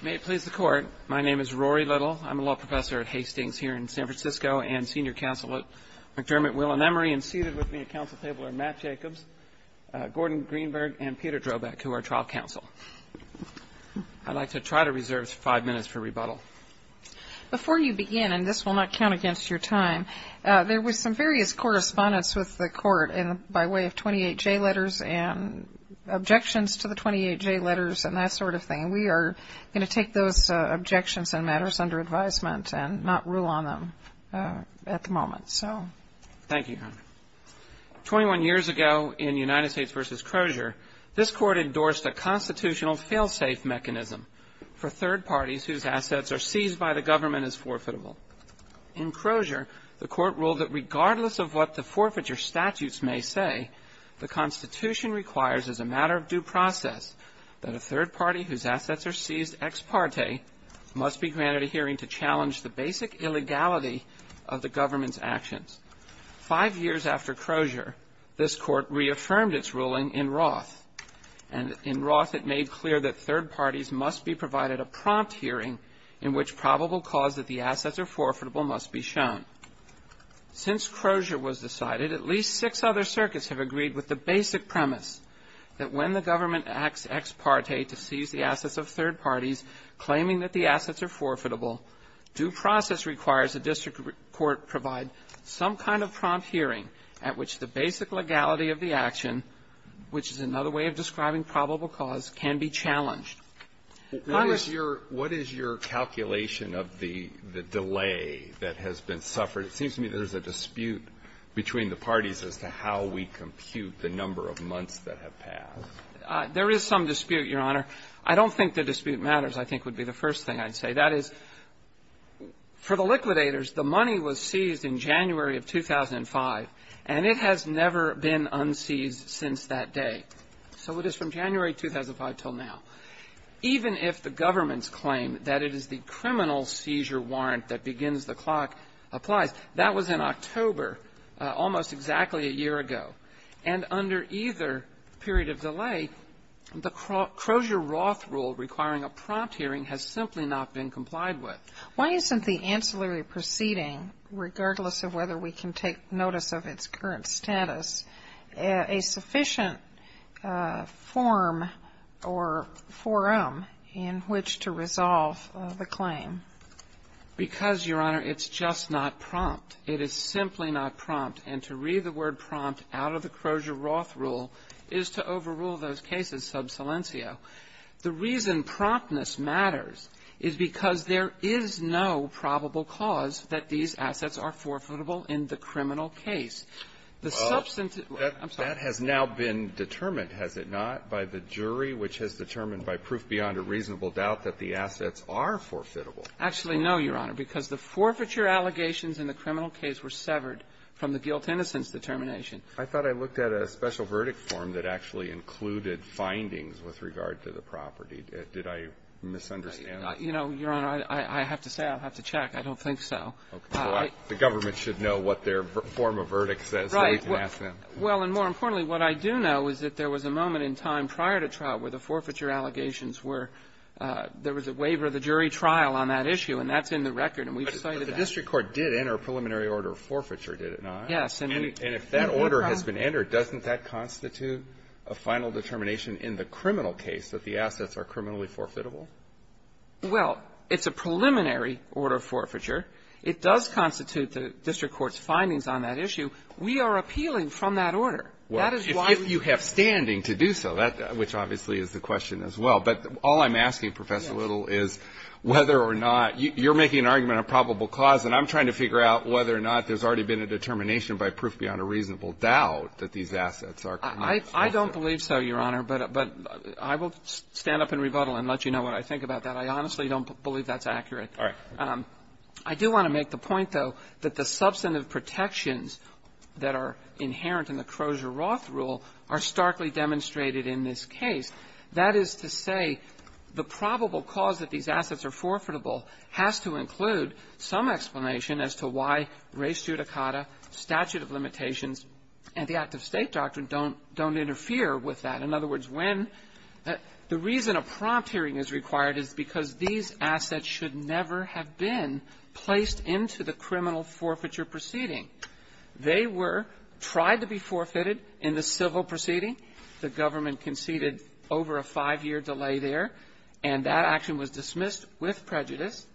May it please the Court, my name is Rory Little. I'm a law professor at Hastings here in San Francisco and senior counsel at McDermott, Will and Emery, and seated with me at counsel table are Matt Jacobs, Gordon Greenberg, and Peter Drobak, who are trial counsel. I'd like to try to reserve five minutes for rebuttal. Before you begin, and this will not count against your time, there was some various correspondence with the Court by way of 28J letters and objections to the 28J letters and that sort of thing. We are going to take those objections and matters under advisement and not rule on them at the moment, so. Thank you, Your Honor. Twenty-one years ago in United States v. Crozier, this Court endorsed a constitutional fail-safe mechanism for third parties whose assets are seized by the government as forfeitable. In Crozier, the Court ruled that regardless of what the forfeiture statutes may say, the Constitution requires as a matter of due process that a third party whose assets are seized ex parte must be granted a hearing to challenge the basic illegality of the government's actions. Five years after Crozier, this Court reaffirmed its ruling in Roth, and in Roth it made clear that third parties must be provided a prompt hearing in which probable cause that the assets are forfeitable must be shown. Since Crozier was decided, at least six other circuits have agreed with the basic premise that when the government acts ex parte to seize the assets of third parties claiming that the assets are forfeitable, due process requires the district court provide some kind of prompt hearing at which the basic legality of the action, which is another way of describing probable cause, can be challenged. Breyer, what is your calculation of the delay that has been suffered? It seems to me there's a dispute between the parties as to how we compute the number of months that have passed. There is some dispute, Your Honor. I don't think the dispute matters, I think, would be the first thing I'd say. That is, for the liquidators, the money was seized in January of 2005, and it has never been unseized since that day. So it is from January 2005 until now. Even if the government's claim that it is the criminal seizure warrant that begins the clock applies, that was in October, almost exactly a year ago. And under either period of delay, the Crozier-Roth rule requiring a prompt hearing has simply not been complied with. Why isn't the ancillary proceeding, regardless of whether we can take notice of its current status, a sufficient form or forum in which to resolve the claim? Because, Your Honor, it's just not prompt. It is simply not prompt. And to read the word prompt out of the Crozier-Roth rule is to overrule those cases sub silencio. The reason promptness matters is because there is no probable cause that these assets are forfeitable in the criminal case. The substance of that has now been determined, has it not, by the jury, which has determined by proof beyond a reasonable doubt that the assets are forfeitable. Actually, no, Your Honor, because the forfeiture allegations in the criminal case were severed from the guilt-innocence determination. I thought I looked at a special verdict form that actually included findings with regard to the property. Did I misunderstand? You know, Your Honor, I have to say, I'll have to check. I don't think so. Okay. So the government should know what their form of verdict says, so we can ask them. Right. Well, and more importantly, what I do know is that there was a moment in time prior to trial where the forfeiture allegations were, there was a waiver of the jury trial on that issue, and that's in the record, and we've cited that. But the district court did enter a preliminary order of forfeiture, did it not? Yes. And if that order has been entered, doesn't that constitute a final determination in the criminal case that the assets are criminally forfeitable? Well, it's a preliminary order of forfeiture. It does constitute the district court's findings on that issue. We are appealing from that order. Well, if you have standing to do so, which obviously is the question as well. But all I'm asking, Professor Little, is whether or not, you're making an argument on probable cause, and I'm trying to figure out whether or not there's already been a determination by proof beyond a reasonable doubt that these assets are criminally forfeitable. I don't believe so, Your Honor. But I will stand up and rebuttal and let you know what I think about that. I honestly don't believe that's accurate. All right. I do want to make the point, though, that the substantive protections that are inherent in the Crozier-Roth rule are starkly demonstrated in this case. That is to say, the probable cause that these assets are forfeitable has to include some explanation as to why res judicata, statute of limitations, and the act of State doctrine don't interfere with that. In other words, when the reason a prompt hearing is required is because these assets should never have been placed into the criminal forfeiture proceeding. They were tried to be forfeited in the civil proceeding. The government conceded over a five-year delay there. And that action was dismissed with prejudice.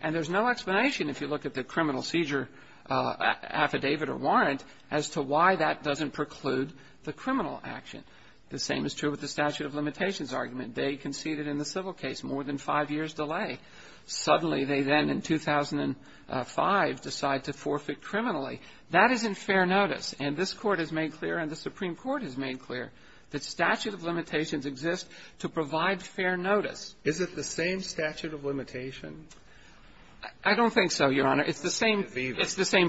And there's no explanation, if you look at the criminal seizure affidavit or warrant, as to why that doesn't preclude the criminal action. The same is true with the statute of limitations argument. They conceded in the civil case more than five years' delay. Suddenly, they then, in 2005, decide to forfeit criminally. That isn't fair notice. And this Court has made clear, and the Supreme Court has made clear, that statute of limitations exists to provide fair notice. Is it the same statute of limitation? I don't think so, Your Honor. It's the same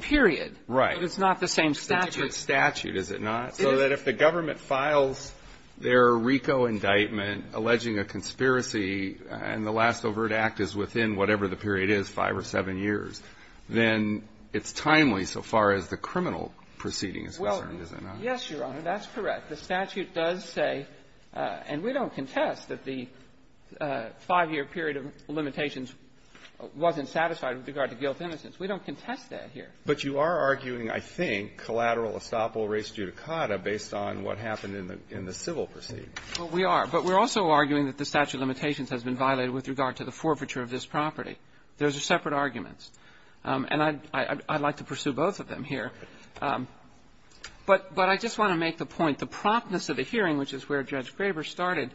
period. Right. But it's not the same statute. It's a different statute, is it not? So that if the government files their RICO indictment alleging a conspiracy, and the last overt act is within whatever the period is, five or seven years, then it's timely so far as the criminal proceeding is concerned, is it not? Well, yes, Your Honor, that's correct. The statute does say, and we don't contest that the five-year period of limitations wasn't satisfied with regard to guilt-innocence. We don't contest that here. But you are arguing, I think, collateral estoppel res judicata based on what happened in the civil proceeding. Well, we are. But we're also arguing that the statute of limitations has been violated with regard to the forfeiture of this property. Those are separate arguments. And I'd like to pursue both of them here. But I just want to make the point, the promptness of the hearing, which is where Judge Graber started,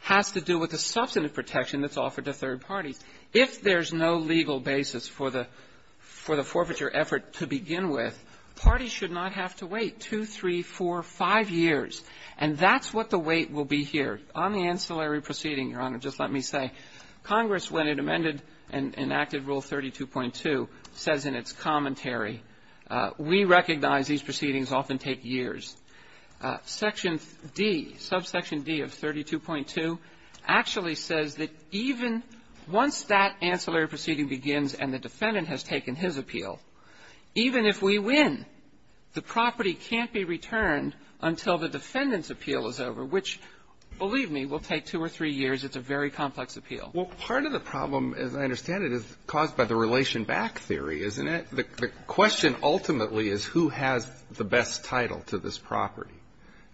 has to do with the substantive protection that's offered to third parties. If there's no legal basis for the forfeiture effort to begin with, parties should not have to wait two, three, four, five years. And that's what the wait will be here. On the ancillary proceeding, Your Honor, just let me say, Congress, when it amended and enacted Rule 32.2, says in its commentary, we recognize these proceedings often take years. Section D, subsection D of 32.2, actually says that even once that ancillary proceeding begins and the defendant has taken his appeal, even if we win, the property can't be returned until the defendant's appeal is over, which, believe me, will take two or three years. It's a very complex appeal. Well, part of the problem, as I understand it, is caused by the relation back theory, isn't it? The question ultimately is who has the best title to this property.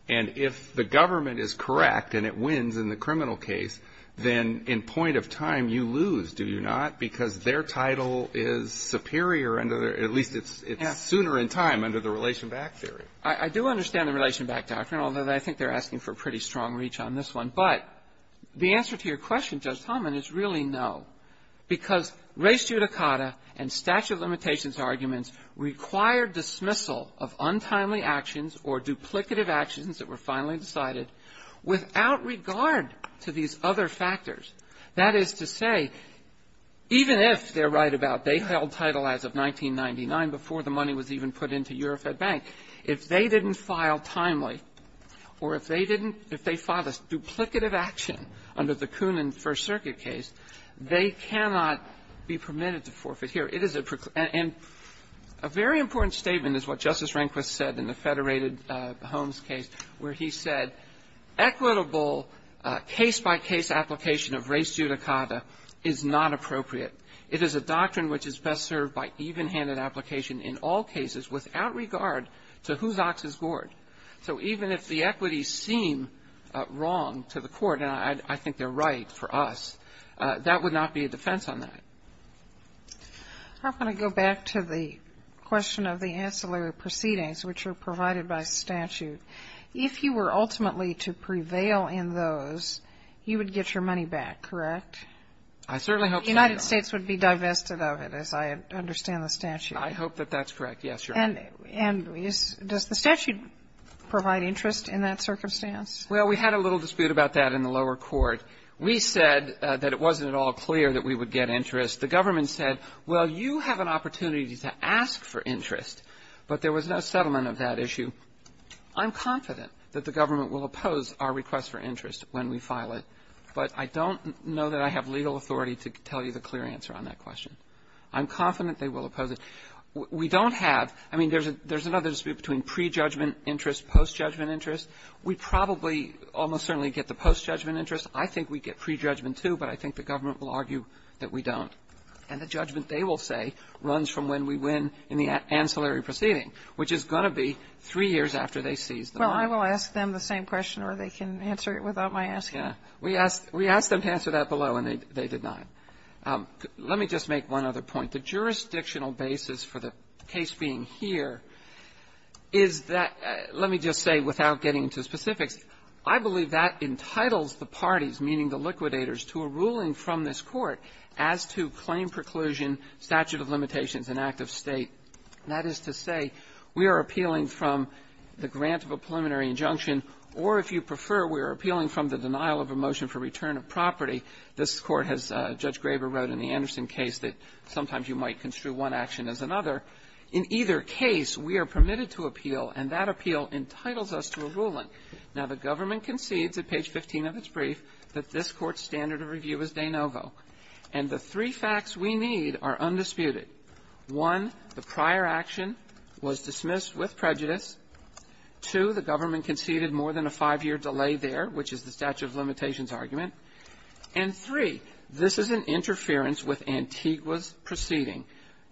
And if the government is correct and it wins in the criminal case, then in point of time, you lose, do you not? Because their title is superior under their at least it's sooner in time under the relation back theory. I do understand the relation back doctrine, although I think they're asking for pretty strong reach on this one. But the answer to your question, Judge Tomlin, is really no, because res judicata and statute of limitations arguments require dismissal of untimely actions or duplicative actions that were finally decided without regard to these other factors. That is to say, even if they're right about they held title as of 1999 before the money was even put into Euro Fed Bank, if they didn't file timely or if they didn't if they filed a duplicative action under the Koonin First Circuit case, they cannot be permitted to forfeit here. It is a and a very important statement is what Justice Rehnquist said in the Federated Holmes case where he said equitable case-by-case application of res judicata is not appropriate. It is a doctrine which is best served by even-handed application in all cases without regard to whose ox is gored. So even if the equities seem wrong to the Court, and I think they're right for us, that would not be a defense on that. I'm going to go back to the question of the ancillary proceedings which are provided by statute. If you were ultimately to prevail in those, you would get your money back, correct? I certainly hope so, Your Honor. The United States would be divested of it, as I understand the statute. I hope that that's correct, yes, Your Honor. And does the statute provide interest in that circumstance? Well, we had a little dispute about that in the lower court. We said that it wasn't at all clear that we would get interest. The government said, well, you have an opportunity to ask for interest, but there was no settlement of that issue. I'm confident that the government will oppose our request for interest when we file it, but I don't know that I have legal authority to tell you the clear answer on that question. I'm confident they will oppose it. We don't have – I mean, there's another dispute between prejudgment interest, post-judgment interest. We probably almost certainly get the post-judgment interest. I think we get prejudgment, too, but I think the government will argue that we don't. And the judgment, they will say, runs from when we win in the ancillary proceeding, which is going to be three years after they seize the money. Well, I will ask them the same question, or they can answer it without my asking. Yeah. We asked them to answer that below, and they did not. Let me just make one other point. The jurisdictional basis for the case being here is that – let me just say, without getting into specifics, I believe that entitles the parties, meaning the liquidators, to a ruling from this Court as to claim preclusion, statute of limitations, and act of State. That is to say, we are appealing from the grant of a preliminary injunction, or if you prefer, we are appealing from the denial of a motion for return of property. This Court has – Judge Graber wrote in the Anderson case that sometimes you might construe one action as another. In either case, we are permitted to appeal, and that appeal entitles us to a ruling. Now, the government concedes at page 15 of its brief that this Court's standard of review is de novo. And the three facts we need are undisputed. One, the prior action was dismissed with prejudice. Two, the government conceded more than a five-year delay there, which is the statute of limitations argument. And three, this is an interference with Antigua's proceeding.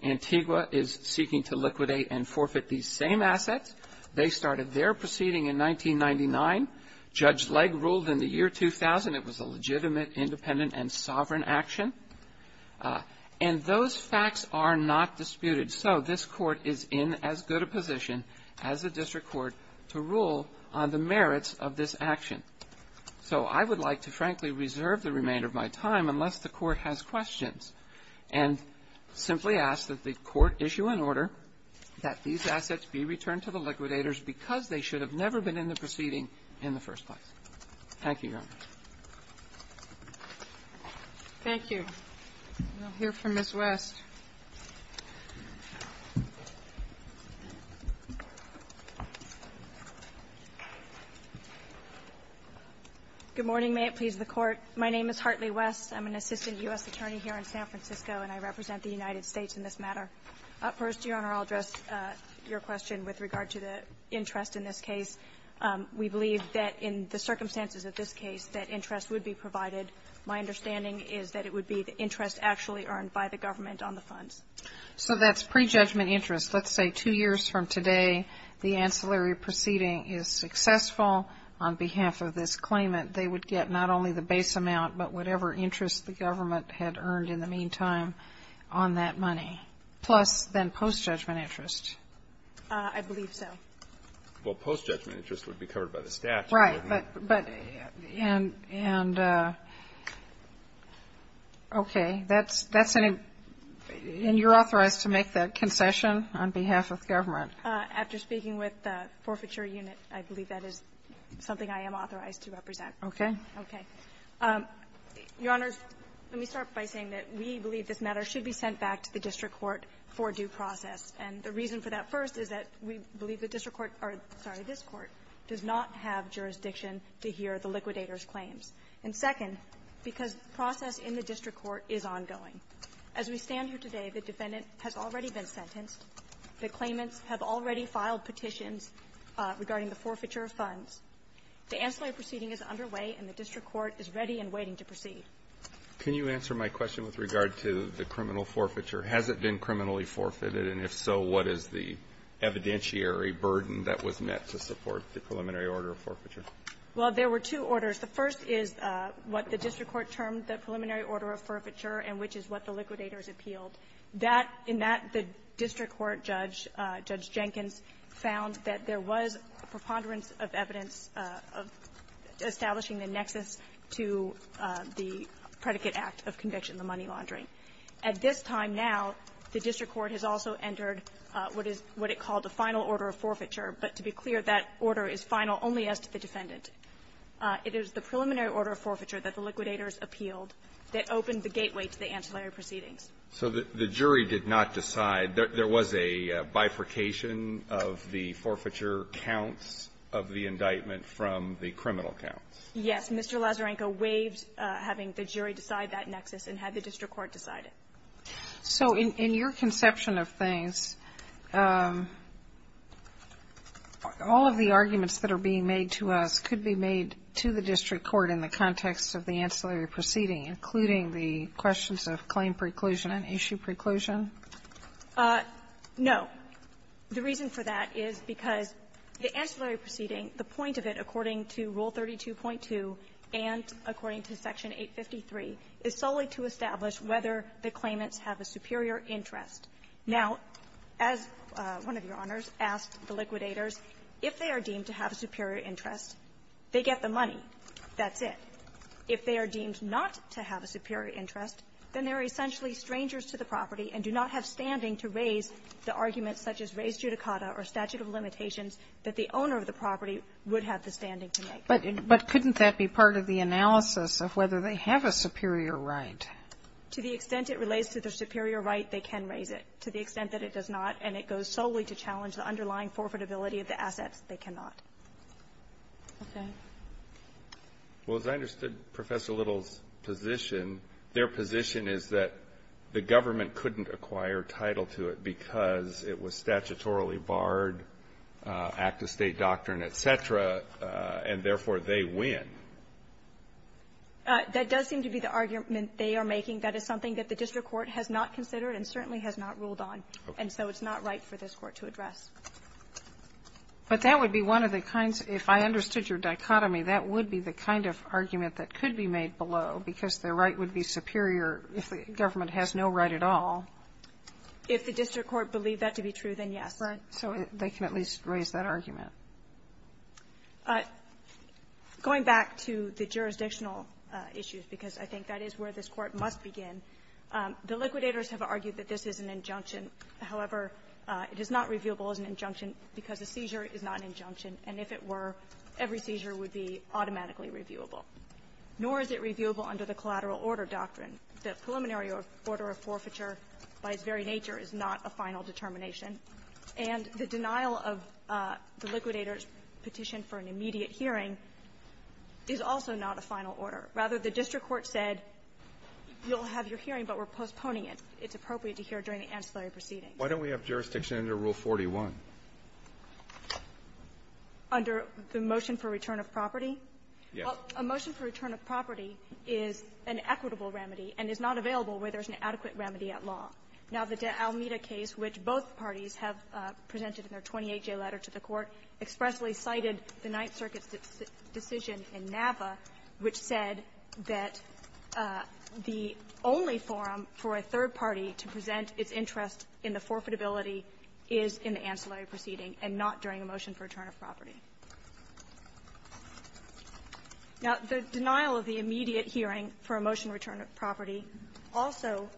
Antigua is seeking to liquidate and forfeit these same assets. They started their proceeding in 1999. Judge Legg ruled in the year 2000 it was a legitimate, independent, and sovereign action. And those facts are not disputed. So this Court is in as good a position as the district court to rule on the merits of this action. So I would like to, frankly, reserve the remainder of my time unless the Court has questions. And simply ask that the Court issue an order that these assets be returned to the liquidators because they should have never been in the proceeding in the first place. Thank you, Your Honor. Thank you. We'll hear from Ms. West. Good morning. May it please the Court. My name is Hartley West. I'm an assistant U.S. attorney here in San Francisco, and I represent the United States in this matter. First, Your Honor, I'll address your question with regard to the interest in this case. We believe that in the circumstances of this case that interest would be provided. My understanding is that it would be the interest actually earned by the government on the funds. So that's prejudgment interest. Let's say two years from today the ancillary proceeding is successful on behalf of this claimant. That they would get not only the base amount, but whatever interest the government had earned in the meantime on that money, plus then post-judgment interest. I believe so. Well, post-judgment interest would be covered by the statute. Right, but and okay, that's and you're authorized to make that concession on behalf of government. After speaking with the forfeiture unit, I believe that is something I am authorized to represent. Okay. Okay. Your Honors, let me start by saying that we believe this matter should be sent back to the district court for due process. And the reason for that, first, is that we believe the district court or, sorry, this court does not have jurisdiction to hear the liquidator's claims. And second, because the process in the district court is ongoing. As we stand here today, the defendant has already been sentenced. The claimants have already filed petitions regarding the forfeiture of funds. The ancillary proceeding is underway, and the district court is ready and waiting to proceed. Can you answer my question with regard to the criminal forfeiture? Has it been criminally forfeited? And if so, what is the evidentiary burden that was met to support the preliminary order of forfeiture? Well, there were two orders. The first is what the district court termed the preliminary order of forfeiture and which is what the liquidators appealed. That the district court judge, Judge Jenkins, found that there was preponderance of evidence of establishing the nexus to the predicate act of conviction of the money laundering. At this time now, the district court has also entered what is what it called the final order of forfeiture. But to be clear, that order is final only as to the defendant. It is the preliminary order of forfeiture that the liquidators appealed that opened the gateway to the ancillary proceedings. So the jury did not decide. There was a bifurcation of the forfeiture counts of the indictment from the criminal counts. Yes. Mr. Lazarenko waived having the jury decide that nexus and had the district court decide it. So in your conception of things, all of the arguments that are being made to us could be made to the district court in the context of the ancillary proceeding, including the questions of claim preclusion and issue preclusion? No. The reason for that is because the ancillary proceeding, the point of it according to Rule 32.2 and according to Section 853, is solely to establish whether the claimants have a superior interest. Now, as one of your Honors asked the liquidators, if they are deemed to have a superior interest, they get the money. That's it. If they are deemed not to have a superior interest, then they are essentially strangers to the property and do not have standing to raise the arguments such as raised judicata or statute of limitations that the owner of the property would have the standing to make. But couldn't that be part of the analysis of whether they have a superior right? To the extent it relates to the superior right, they can raise it. To the extent that it does not and it goes solely to challenge the underlying forfeitability of the assets, they cannot. Okay. Well, as I understood Professor Little's position, their position is that the government couldn't acquire title to it because it was statutorily barred, act-of-state doctrine, et cetera, and therefore, they win. That does seem to be the argument they are making. That is something that the district court has not considered and certainly has not ruled on. And so it's not right for this Court to address. But that would be one of the kinds, if I understood your dichotomy, that would be the kind of argument that could be made below, because the right would be superior if the government has no right at all. If the district court believed that to be true, then yes. Right. So they can at least raise that argument. Going back to the jurisdictional issues, because I think that is where this Court must begin, the liquidators have argued that this is an injunction. However, it is not reviewable as an injunction because a seizure is not an injunction. And if it were, every seizure would be automatically reviewable. Nor is it reviewable under the collateral order doctrine. The preliminary order of forfeiture, by its very nature, is not a final determination. And the denial of the liquidators' petition for an immediate hearing is also not a final order. Rather, the district court said, you'll have your hearing, but we're postponing it. It's appropriate to hear during the ancillary proceedings. Why don't we have jurisdiction under Rule 41? Under the motion for return of property? Yes. A motion for return of property is an equitable remedy and is not available where there's an adequate remedy at law. Now, the de Almeida case, which both parties have presented in their 28-J letter to the Court, expressly cited the Ninth Circuit's decision in Nava, which said that the only forum for a third party to present its interest in the forfeitability is in the ancillary proceeding and not during a motion for return of property. Now, the denial of the immediate hearing for a motion to return of property also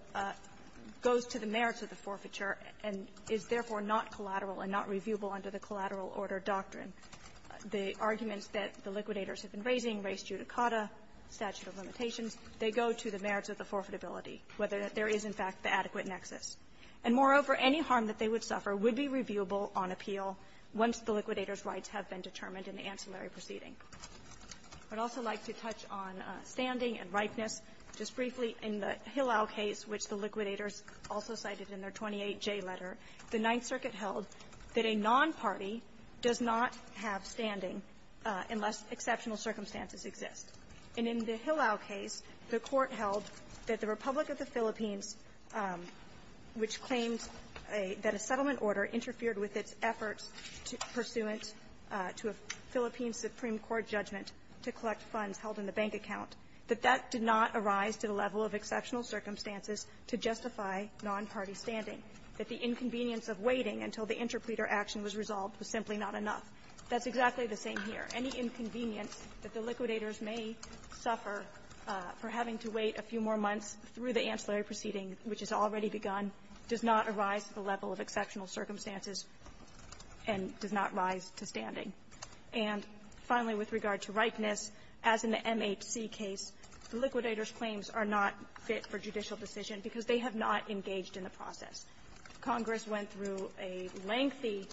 goes to the merits of the forfeiture and is therefore not collateral and not reviewable under the collateral order doctrine. The arguments that the liquidators have been raising, res judicata, statute of limitations, they go to the merits of the forfeitability, whether there is, in fact, the adequate nexus. And moreover, any harm that they would suffer would be reviewable on appeal once the liquidators' rights have been determined in the ancillary proceeding. I'd also like to touch on standing and ripeness. Just briefly, in the Hillel case, which the liquidators also cited in their 28-J letter, the Ninth Circuit held that a nonparty does not have standing unless exceptional circumstances exist. And in the Hillel case, the Court held that the Republic of the Philippines, which claims that a settlement order interfered with its efforts pursuant to a Philippine Supreme Court judgment to collect funds held in the bank account, that that did not arise to the level of exceptional circumstances to justify nonparty standing. That the inconvenience of waiting until the interpleader action was resolved was simply not enough. That's exactly the same here. Any inconvenience that the liquidators may suffer for having to wait a few more months through the ancillary proceeding, which has already begun, does not arise to the level of exceptional circumstances and does not rise to standing. And finally, with regard to ripeness, as in the MHC case, the liquidators' claims are not fit for judicial decision because they have not engaged in the process. Congress went through a lengthy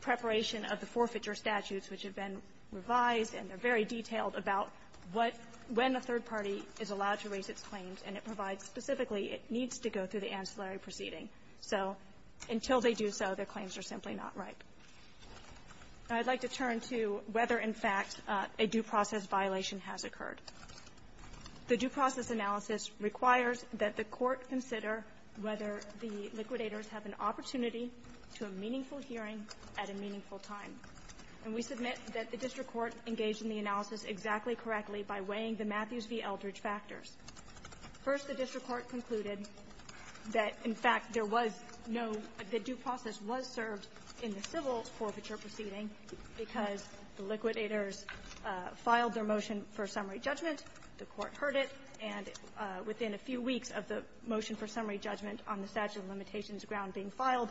preparation of the forfeiture statutes, which have been revised, and they're very detailed about what the third party is allowed to raise its claims, and it provides specifically it needs to go through the ancillary proceeding. So until they do so, their claims are simply not ripe. And I'd like to turn to whether, in fact, a due process violation has occurred. The due process analysis requires that the Court to a meaningful hearing at a meaningful time. And we submit that the district court engaged in the analysis exactly correctly by weighing the Matthews v. Eldridge factors. First, the district court concluded that, in fact, there was no due process was served in the civil forfeiture proceeding because the liquidators filed their motion for summary judgment, the Court heard it, and within a few weeks of the motion for summary judgment on the statute of limitations ground being filed,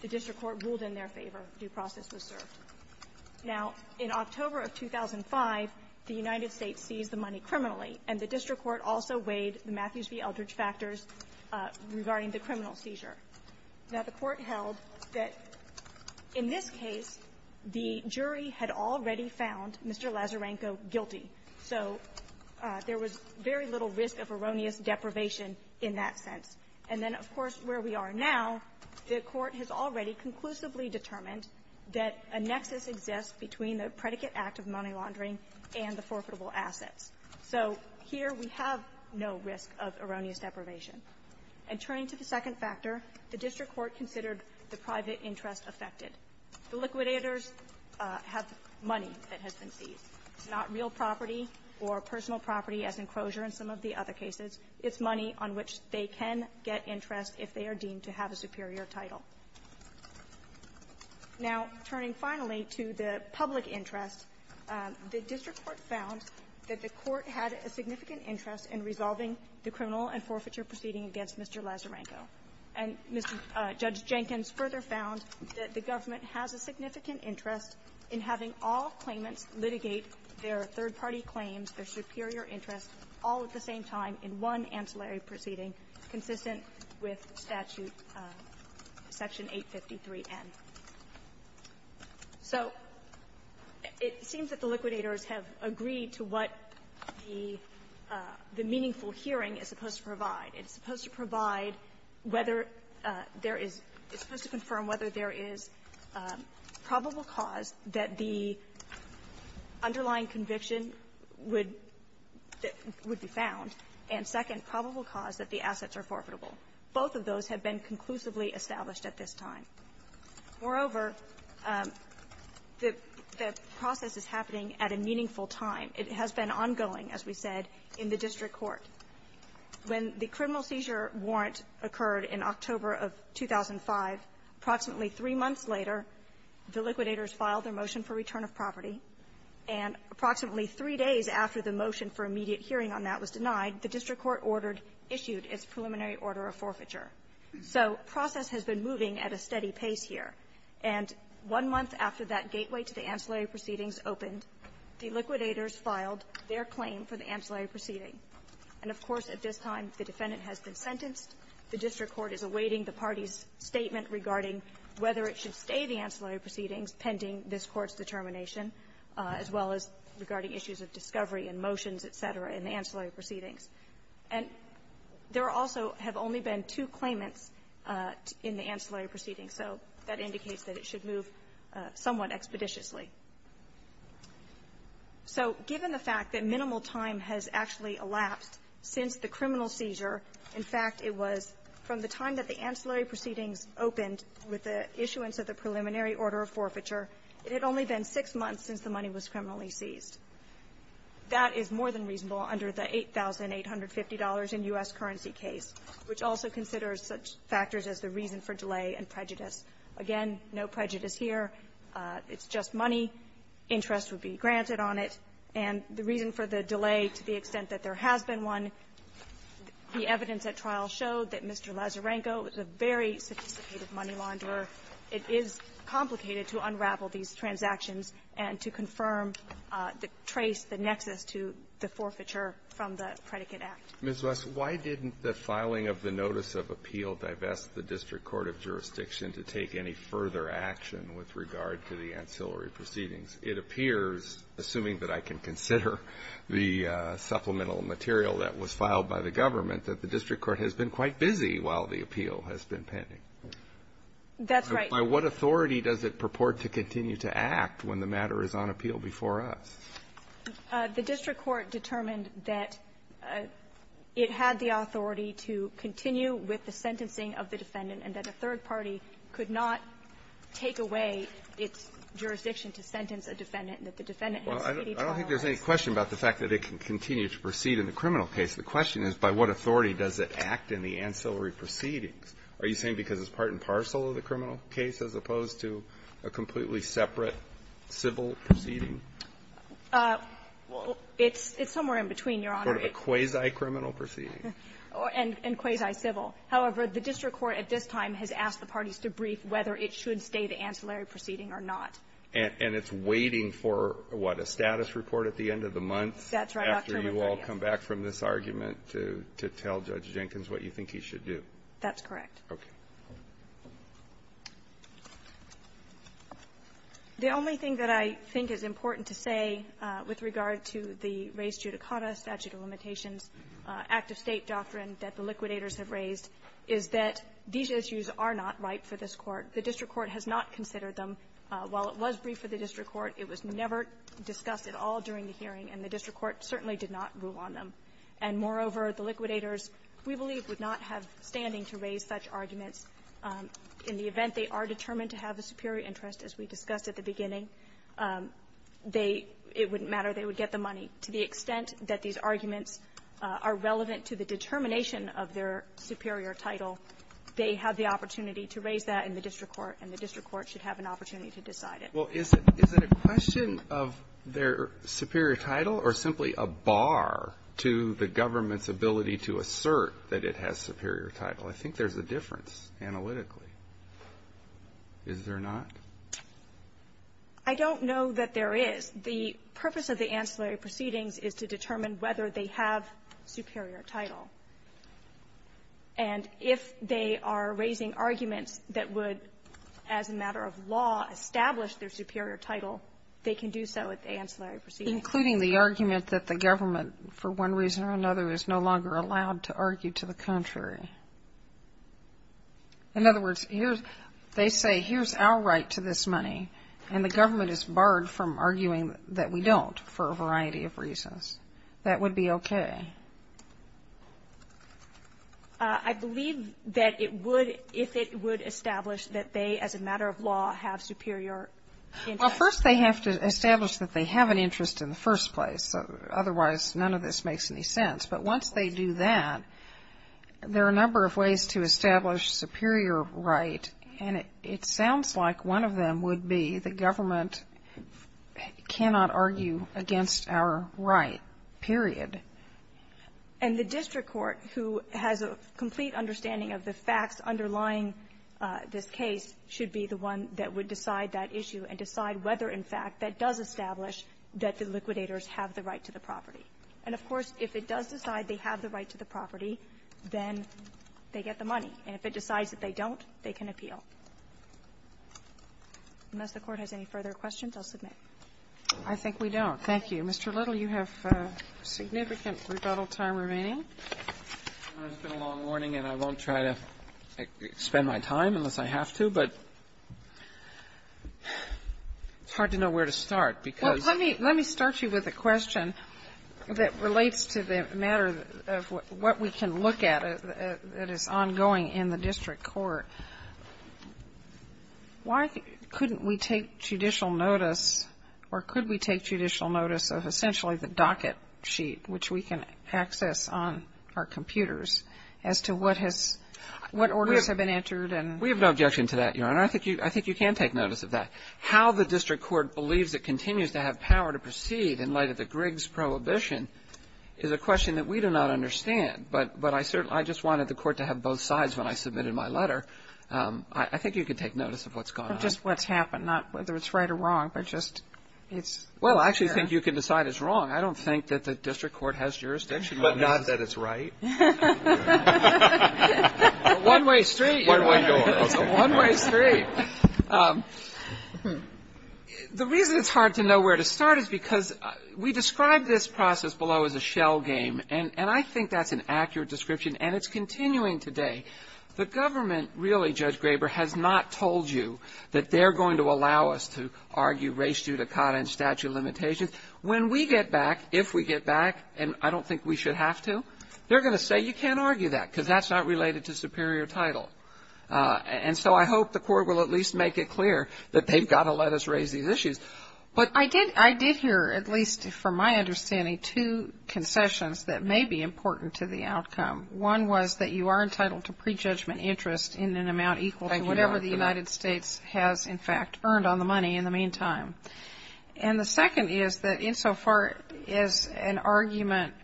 the court the district court ruled in their favor. Due process was served. Now, in October of 2005, the United States seized the money criminally, and the district court also weighed the Matthews v. Eldridge factors regarding the criminal seizure. Now, the Court held that, in this case, the jury had already found Mr. Lazarenko guilty. So there was very little risk of erroneous deprivation in that sense. And then, of course, where we are now, the Court has already conclusively determined that a nexus exists between the predicate act of money laundering and the forfeitable assets. So here, we have no risk of erroneous deprivation. And turning to the second factor, the district court considered the private interest affected. The liquidators have money that has been seized. It's not real property or personal property as enclosure in some of the other cases. It's money on which they can get interest if they are deemed to have a superior title. Now, turning finally to the public interest, the district court found that the Court had a significant interest in resolving the criminal and forfeiture proceeding against Mr. Lazarenko. And Judge Jenkins further found that the government has a significant interest in having all claimants litigate their third-party claims, their superior interest, all at the same time in one ancillary proceeding consistent with Statute Section 853N. So it seems that the liquidators have agreed to what the meaningful hearing is supposed to provide. It's supposed to provide whether there is – it's supposed to confirm whether there is probable cause that the underlying conviction would be found, and, second, probable cause that the assets are forfeitable. Both of those have been conclusively established at this time. Moreover, the process is happening at a meaningful time. It has been ongoing, as we said, in the district court. When the criminal seizure warrant occurred in October of 2005, approximately three months later, the liquidators filed their motion for return of property. And approximately three days after the motion for immediate hearing on that was denied, the district court ordered – issued its preliminary order of forfeiture. So process has been moving at a steady pace here. And one month after that gateway to the ancillary proceedings opened, the liquidators filed their claim for the ancillary proceeding. And, of course, at this time, the defendant has been sentenced. The district court is awaiting the party's statement regarding whether it should stay the ancillary proceedings pending this Court's determination, as well as regarding issues of discovery and motions, et cetera, in the ancillary proceedings. And there also have only been two claimants in the ancillary proceedings. So that indicates that it should move somewhat expeditiously. So given the fact that In fact, it was from the time that the ancillary proceedings opened with the issuance of the preliminary order of forfeiture, it had only been six months since the money was criminally seized. That is more than reasonable under the $8,850 in U.S. currency case, which also considers such factors as the reason for delay and prejudice. Again, no prejudice here. It's just money. Interest would be granted on it. And the reason for the delay, to the extent that there has been one, the evidence at trial showed that Mr. Lazarenko was a very sophisticated money launderer. It is complicated to unravel these transactions and to confirm the trace, the nexus to the forfeiture from the Predicate Act. Alitoson Ms. West, why didn't the filing of the notice of appeal divest the district court of jurisdiction to take any further action with regard to the ancillary proceedings? It appears, assuming that I can consider the supplemental material that was filed by the government, that the district court has been quite busy while the appeal has been pending. That's right. By what authority does it purport to continue to act when the matter is on appeal before us? The district court determined that it had the authority to continue with the sentencing of the defendant and that a third party could not take away its jurisdiction to sentence a defendant, and that the defendant has speedy trial hours. Well, I don't think there's any question about the fact that it can continue to proceed in the criminal case. The question is, by what authority does it act in the ancillary proceedings? Are you saying because it's part and parcel of the criminal case as opposed to a completely separate civil proceeding? Well, it's somewhere in between, Your Honor. A quasi-criminal proceeding? And quasi-civil. However, the district court at this time has asked the parties to brief whether it should stay the ancillary proceeding or not. And it's waiting for, what, a status report at the end of the month? That's right, Dr. Rupert, yes. After you all come back from this argument to tell Judge Jenkins what you think he should do? That's correct. Okay. The only thing that I think is important to say with regard to the raised judicata, statute of limitations, act of State doctrine that the liquidators have raised is that these issues are not ripe for this Court. The district court has not considered them. While it was briefed for the district court, it was never discussed at all during the hearing, and the district court certainly did not rule on them. And moreover, the liquidators, we believe, would not have standing to raise such arguments in the event they are determined to have a superior interest, as we discussed at the beginning. They – it wouldn't matter. They would get the money. To the extent that these arguments are relevant to the determination of their superior title, they have the opportunity to raise that in the district court, and the district court should have an opportunity to decide it. Well, is it a question of their superior title or simply a bar to the government's ability to assert that it has superior title? I think there's a difference analytically. Is there not? I don't know that there is. The purpose of the ancillary proceedings is to determine whether they have superior title. And if they are raising arguments that would, as a matter of law, establish their superior title, they can do so at the ancillary proceedings. Including the argument that the government, for one reason or another, is no longer allowed to argue to the contrary. In other words, here's – they say, here's our right to this money, and the government is barred from arguing that we don't for a variety of reasons. That would be okay. I believe that it would – if it would establish that they, as a matter of law, have superior – Well, first they have to establish that they have an interest in the first place. Otherwise, none of this makes any sense. But once they do that, there are a number of ways to establish superior right. And it sounds like one of them would be the government cannot argue against our right, period. And the district court, who has a complete understanding of the facts underlying this case, should be the one that would decide that issue and decide whether, in fact, that does establish that the liquidators have the right to the property. And, of course, if it does decide they have the right to the property, then they get the money. And if it decides that they don't, they can appeal. Unless the Court has any further questions, I'll submit. I think we don't. Thank you. Mr. Little, you have significant rebuttal time remaining. It's been a long morning, and I won't try to spend my time unless I have to, but it's hard to know where to start because – Well, let me start you with a question that relates to the matter of what we can look at that is ongoing in the district court. Why couldn't we take judicial notice, or could we take judicial notice of essentially the docket sheet, which we can access on our computers, as to what has – what orders have been entered and – We have no objection to that, Your Honor. I think you can take notice of that. How the district court believes it continues to have power to proceed in light of the Griggs prohibition is a question that we do not understand, but I just wanted the Court to have both sides when I submitted my letter. I think you can take notice of what's gone on. Just what's happened, not whether it's right or wrong, but just it's – Well, I actually think you can decide it's wrong. I don't think that the district court has jurisdiction on this. But not that it's right? A one-way street, Your Honor. One-way door. It's a one-way street. The reason it's hard to know where to start is because we describe this process below as a shell game, and I think that's an accurate description, and it's continuing today. The government, really, Judge Graber, has not told you that they're going to allow us to argue race judicata and statute of limitations. When we get back, if we get back, and I don't think we should have to, they're going to say you can't argue that because that's not related to superior title. And so I hope the Court will at least make it clear that they've got to let us raise these issues. But I did hear, at least from my understanding, two concessions that may be important to the outcome. One was that you are entitled to prejudgment interest in an amount equal to whatever the United States has, in fact, earned on the money in the meantime. And the second is that insofar as an argument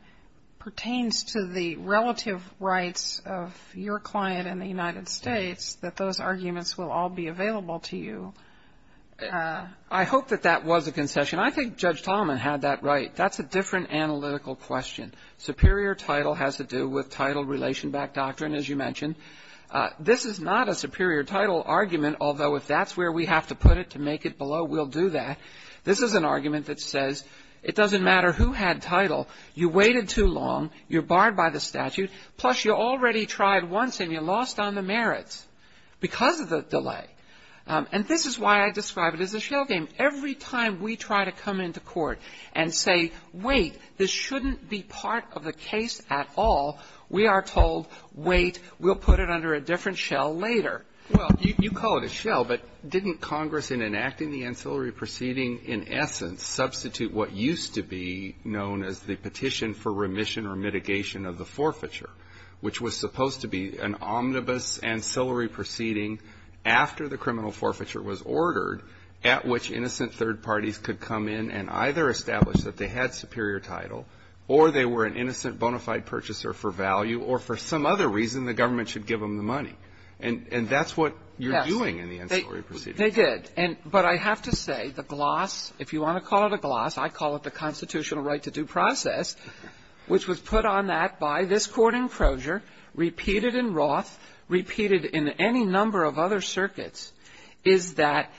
pertains to the relative rights of your client in the United States, that those arguments will all be available to you. I hope that that was a concession. I think Judge Talman had that right. That's a different analytical question. Superior title has to do with title relation-backed doctrine, as you mentioned. This is not a superior title argument, although if that's where we have to put it to make it below, we'll do that. This is an argument that says it doesn't matter who had title. You waited too long. You're barred by the statute. Plus, you already tried once, and you lost on the merits because of the delay. And this is why I describe it as a shell game. Every time we try to come into court and say, wait, this shouldn't be part of the case at all, we are told, wait, we'll put it under a different shell later. Well, you call it a shell, but didn't Congress, in enacting the ancillary proceeding, in essence, substitute what used to be known as the Petition for Remission or Mitigation of the Forfeiture, which was supposed to be an omnibus ancillary proceeding after the criminal forfeiture was ordered, at which innocent third parties could come in and either establish that they had superior title, or they were an innocent bona fide purchaser for value, or for some other reason, the government should give them the money. And that's what you're doing in the ancillary proceeding. They did. But I have to say, the gloss, if you want to call it a gloss, I call it the constitutional right to due process, which was put on that by this Court in Crozier, repeated in Roth, repeated in any number of other circuits, is that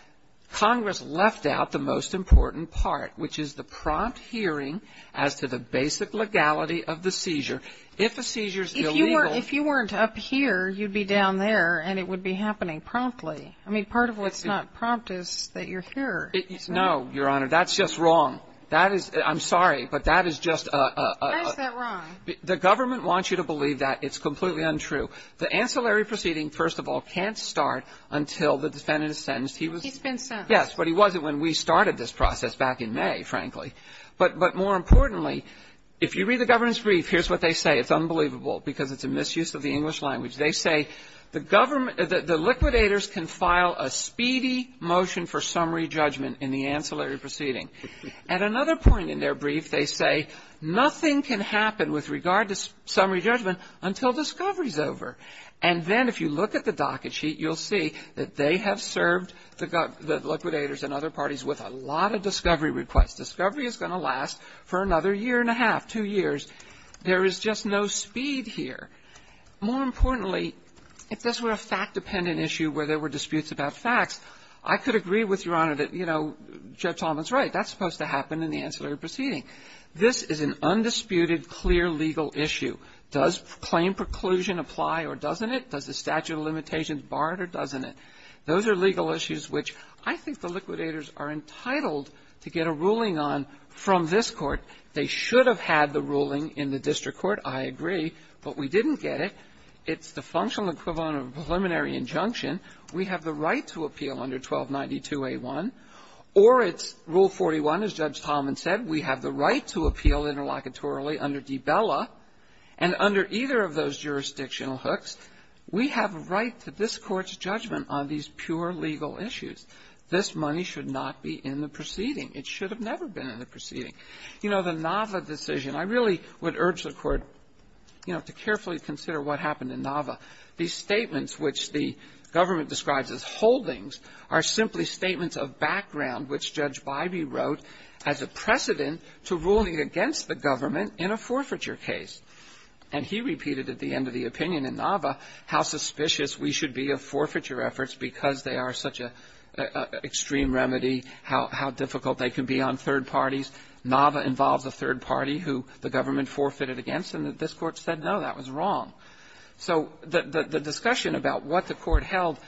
Congress left out the most important part, which is the prompt hearing as to the basic legality of the seizure. If a seizure is illegal If you weren't up here, you'd be down there, and it would be happening promptly. I mean, part of what's not prompt is that you're here. No, Your Honor. That's just wrong. That is the – I'm sorry, but that is just a – Why is that wrong? The government wants you to believe that. It's completely untrue. The ancillary proceeding, first of all, can't start until the defendant is sentenced. He's been sentenced. Yes, but he wasn't when we started this process back in May, frankly. But more importantly, if you read the government's brief, here's what they say. It's unbelievable, because it's a misuse of the English language. They say the government – the liquidators can file a speedy motion for summary judgment in the ancillary proceeding. At another point in their brief, they say nothing can happen with regard to summary judgment until discovery's over. And then if you look at the docket sheet, you'll see that they have served the liquidators and other parties with a lot of discovery requests. Discovery is going to last for another year and a half, two years. There is just no speed here. More importantly, if this were a fact-dependent issue where there were disputes about facts, I could agree with Your Honor that, you know, Judge Talman's right. That's supposed to happen in the ancillary proceeding. This is an undisputed, clear legal issue. Does claim preclusion apply or doesn't it? Does the statute of limitations bar it or doesn't it? Those are legal issues which I think the liquidators are entitled to get a ruling on from this Court. They should have had the ruling in the district court, I agree. But we didn't get it. It's the functional equivalent of a preliminary injunction. We have the right to appeal under 1292a1, or it's Rule 41, as Judge Talman said. We have the right to appeal interlocutorily under D'Bella. And under either of those jurisdictional hooks, we have a right to this Court's judgment on these pure legal issues. This money should not be in the proceeding. It should have never been in the proceeding. You know, the Nava decision, I really would urge the Court, you know, to carefully consider what happened in Nava. These statements which the government describes as holdings are simply statements of background which Judge Bybee wrote as a precedent to ruling against the government in a forfeiture case. And he repeated at the end of the opinion in Nava how suspicious we should be of forfeiture efforts because they are such an extreme remedy, how difficult they can be on third parties. Nava involves a third party who the government forfeited against, and this Court said, no, that was wrong. So the discussion about what the Court held,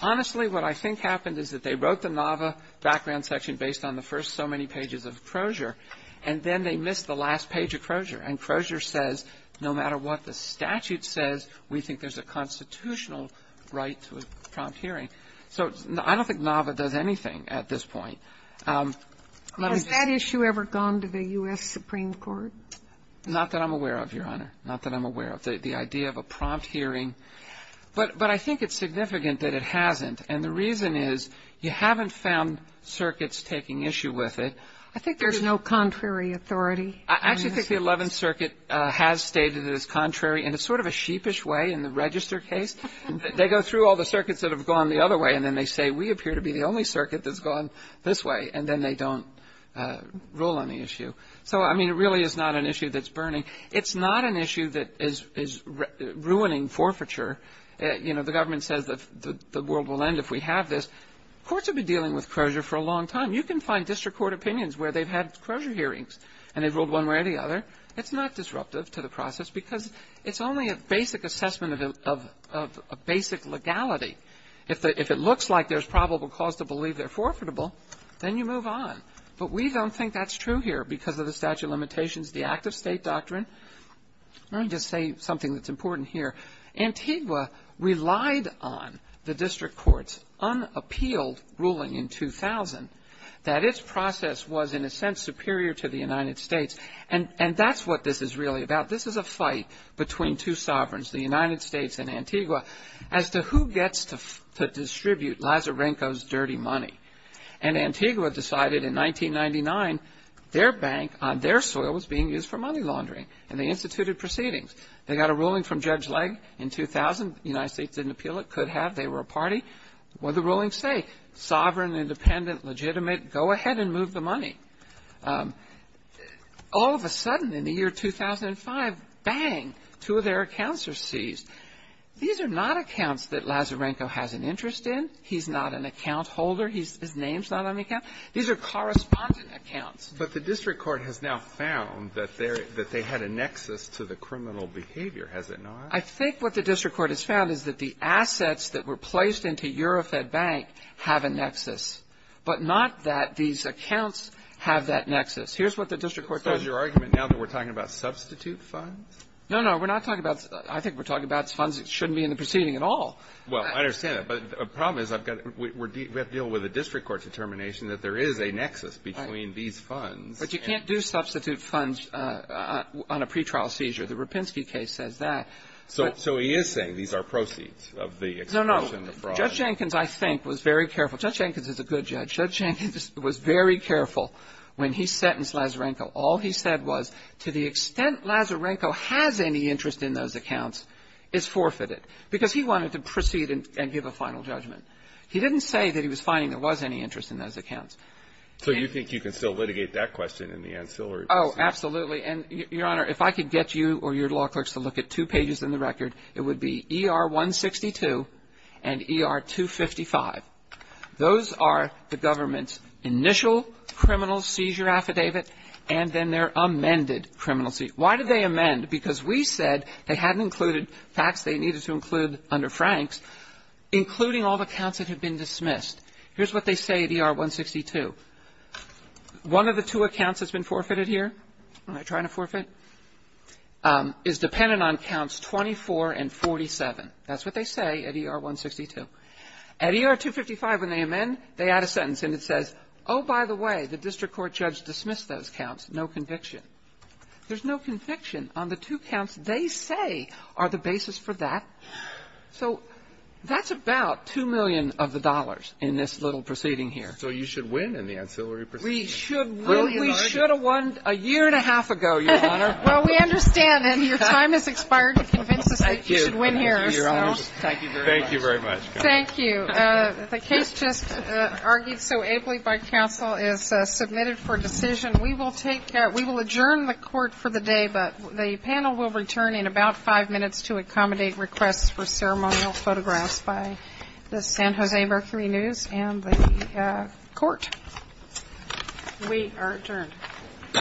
honestly, what I think happened is that they wrote the Nava background section based on the first so many pages of Crozier, and then they missed the last page of Crozier. And Crozier says, no matter what the statute says, we think there's a constitutional right to a prompt hearing. So I don't think Nava does anything at this point. Let me just say this. Sotomayor, has that issue ever gone to the U.S. Supreme Court? Not that I'm aware of, Your Honor. Not that I'm aware of. The idea of a prompt hearing. But I think it's significant that it hasn't. And the reason is you haven't found circuits taking issue with it. I think there's no contrary authority. I actually think the Eleventh Circuit has stated it as contrary in a sort of a sheepish way in the Register case. They go through all the circuits that have gone the other way, and then they say, we appear to be the only circuit that's gone this way, and then they don't rule on the issue. So, I mean, it really is not an issue that's burning. It's not an issue that is ruining forfeiture. You know, the government says the world will end if we have this. Courts have been dealing with crozier for a long time. You can find district court opinions where they've had crozier hearings and they've ruled one way or the other. It's not disruptive to the process because it's only a basic assessment of a basic legality. If it looks like there's probable cause to believe they're forfeitable, then you move But we don't think that's true here because of the statute of limitations, the act of state doctrine. Let me just say something that's important here. Antigua relied on the district court's unappealed ruling in 2000 that its process was, in a sense, superior to the United States. And that's what this is really about. This is a fight between two sovereigns, the United States and Antigua, as to who gets to distribute Lazarenko's dirty money. And Antigua decided in 1999 their bank on their soil was being used for money laundering and they instituted proceedings. They got a ruling from Judge Legge in 2000. The United States didn't appeal it, could have, they were a party. What did the ruling say? Sovereign, independent, legitimate, go ahead and move the money. All of a sudden in the year 2005, bang, two of their accounts are seized. These are not accounts that Lazarenko has an interest in. He's not an account holder. His name's not on the account. These are correspondent accounts. But the district court has now found that they had a nexus to the criminal behavior, has it not? I think what the district court has found is that the assets that were placed into Eurofed Bank have a nexus, but not that these accounts have that nexus. Here's what the district court found. So is your argument now that we're talking about substitute funds? No, no. We're not talking about, I think we're talking about funds that shouldn't be in the proceeding at all. Well, I understand that. But the problem is we have to deal with a district court determination that there is a nexus between these funds. But you can't do substitute funds on a pretrial seizure. The Rapinski case says that. So he is saying these are proceeds of the extortion, the fraud. No, no. Judge Jenkins, I think, was very careful. Judge Jenkins is a good judge. Judge Jenkins was very careful when he sentenced Lazarenko. All he said was to the extent Lazarenko has any interest in those accounts, it's forfeited. Because he wanted to proceed and give a final judgment. He didn't say that he was finding there was any interest in those accounts. So you think you can still litigate that question in the ancillary proceeding? Oh, absolutely. And, Your Honor, if I could get you or your law clerks to look at two pages in the record, it would be ER-162 and ER-255. Those are the government's initial criminal seizure affidavit, and then their amended criminal seizure. Why did they amend? Because we said they hadn't included facts they needed to include under Franks, including all the counts that had been dismissed. Here's what they say at ER-162. One of the two accounts that's been forfeited here, am I trying to forfeit, is dependent on counts 24 and 47. That's what they say at ER-162. At ER-255, when they amend, they add a sentence, and it says, oh, by the way, the district court judge dismissed those counts. No conviction. There's no conviction on the two counts they say are the basis for that. So that's about $2 million of the dollars in this little proceeding here. So you should win in the ancillary proceeding. We should have won a year and a half ago, Your Honor. Well, we understand, and your time has expired to convince us that you should win here. Thank you. Thank you very much. Thank you. The case just argued so ably by counsel is submitted for decision. We will take, we will adjourn the court for the day, but the panel will return in about five minutes to accommodate requests for ceremonial photographs by the San Jose Mercury News and the court. We are adjourned.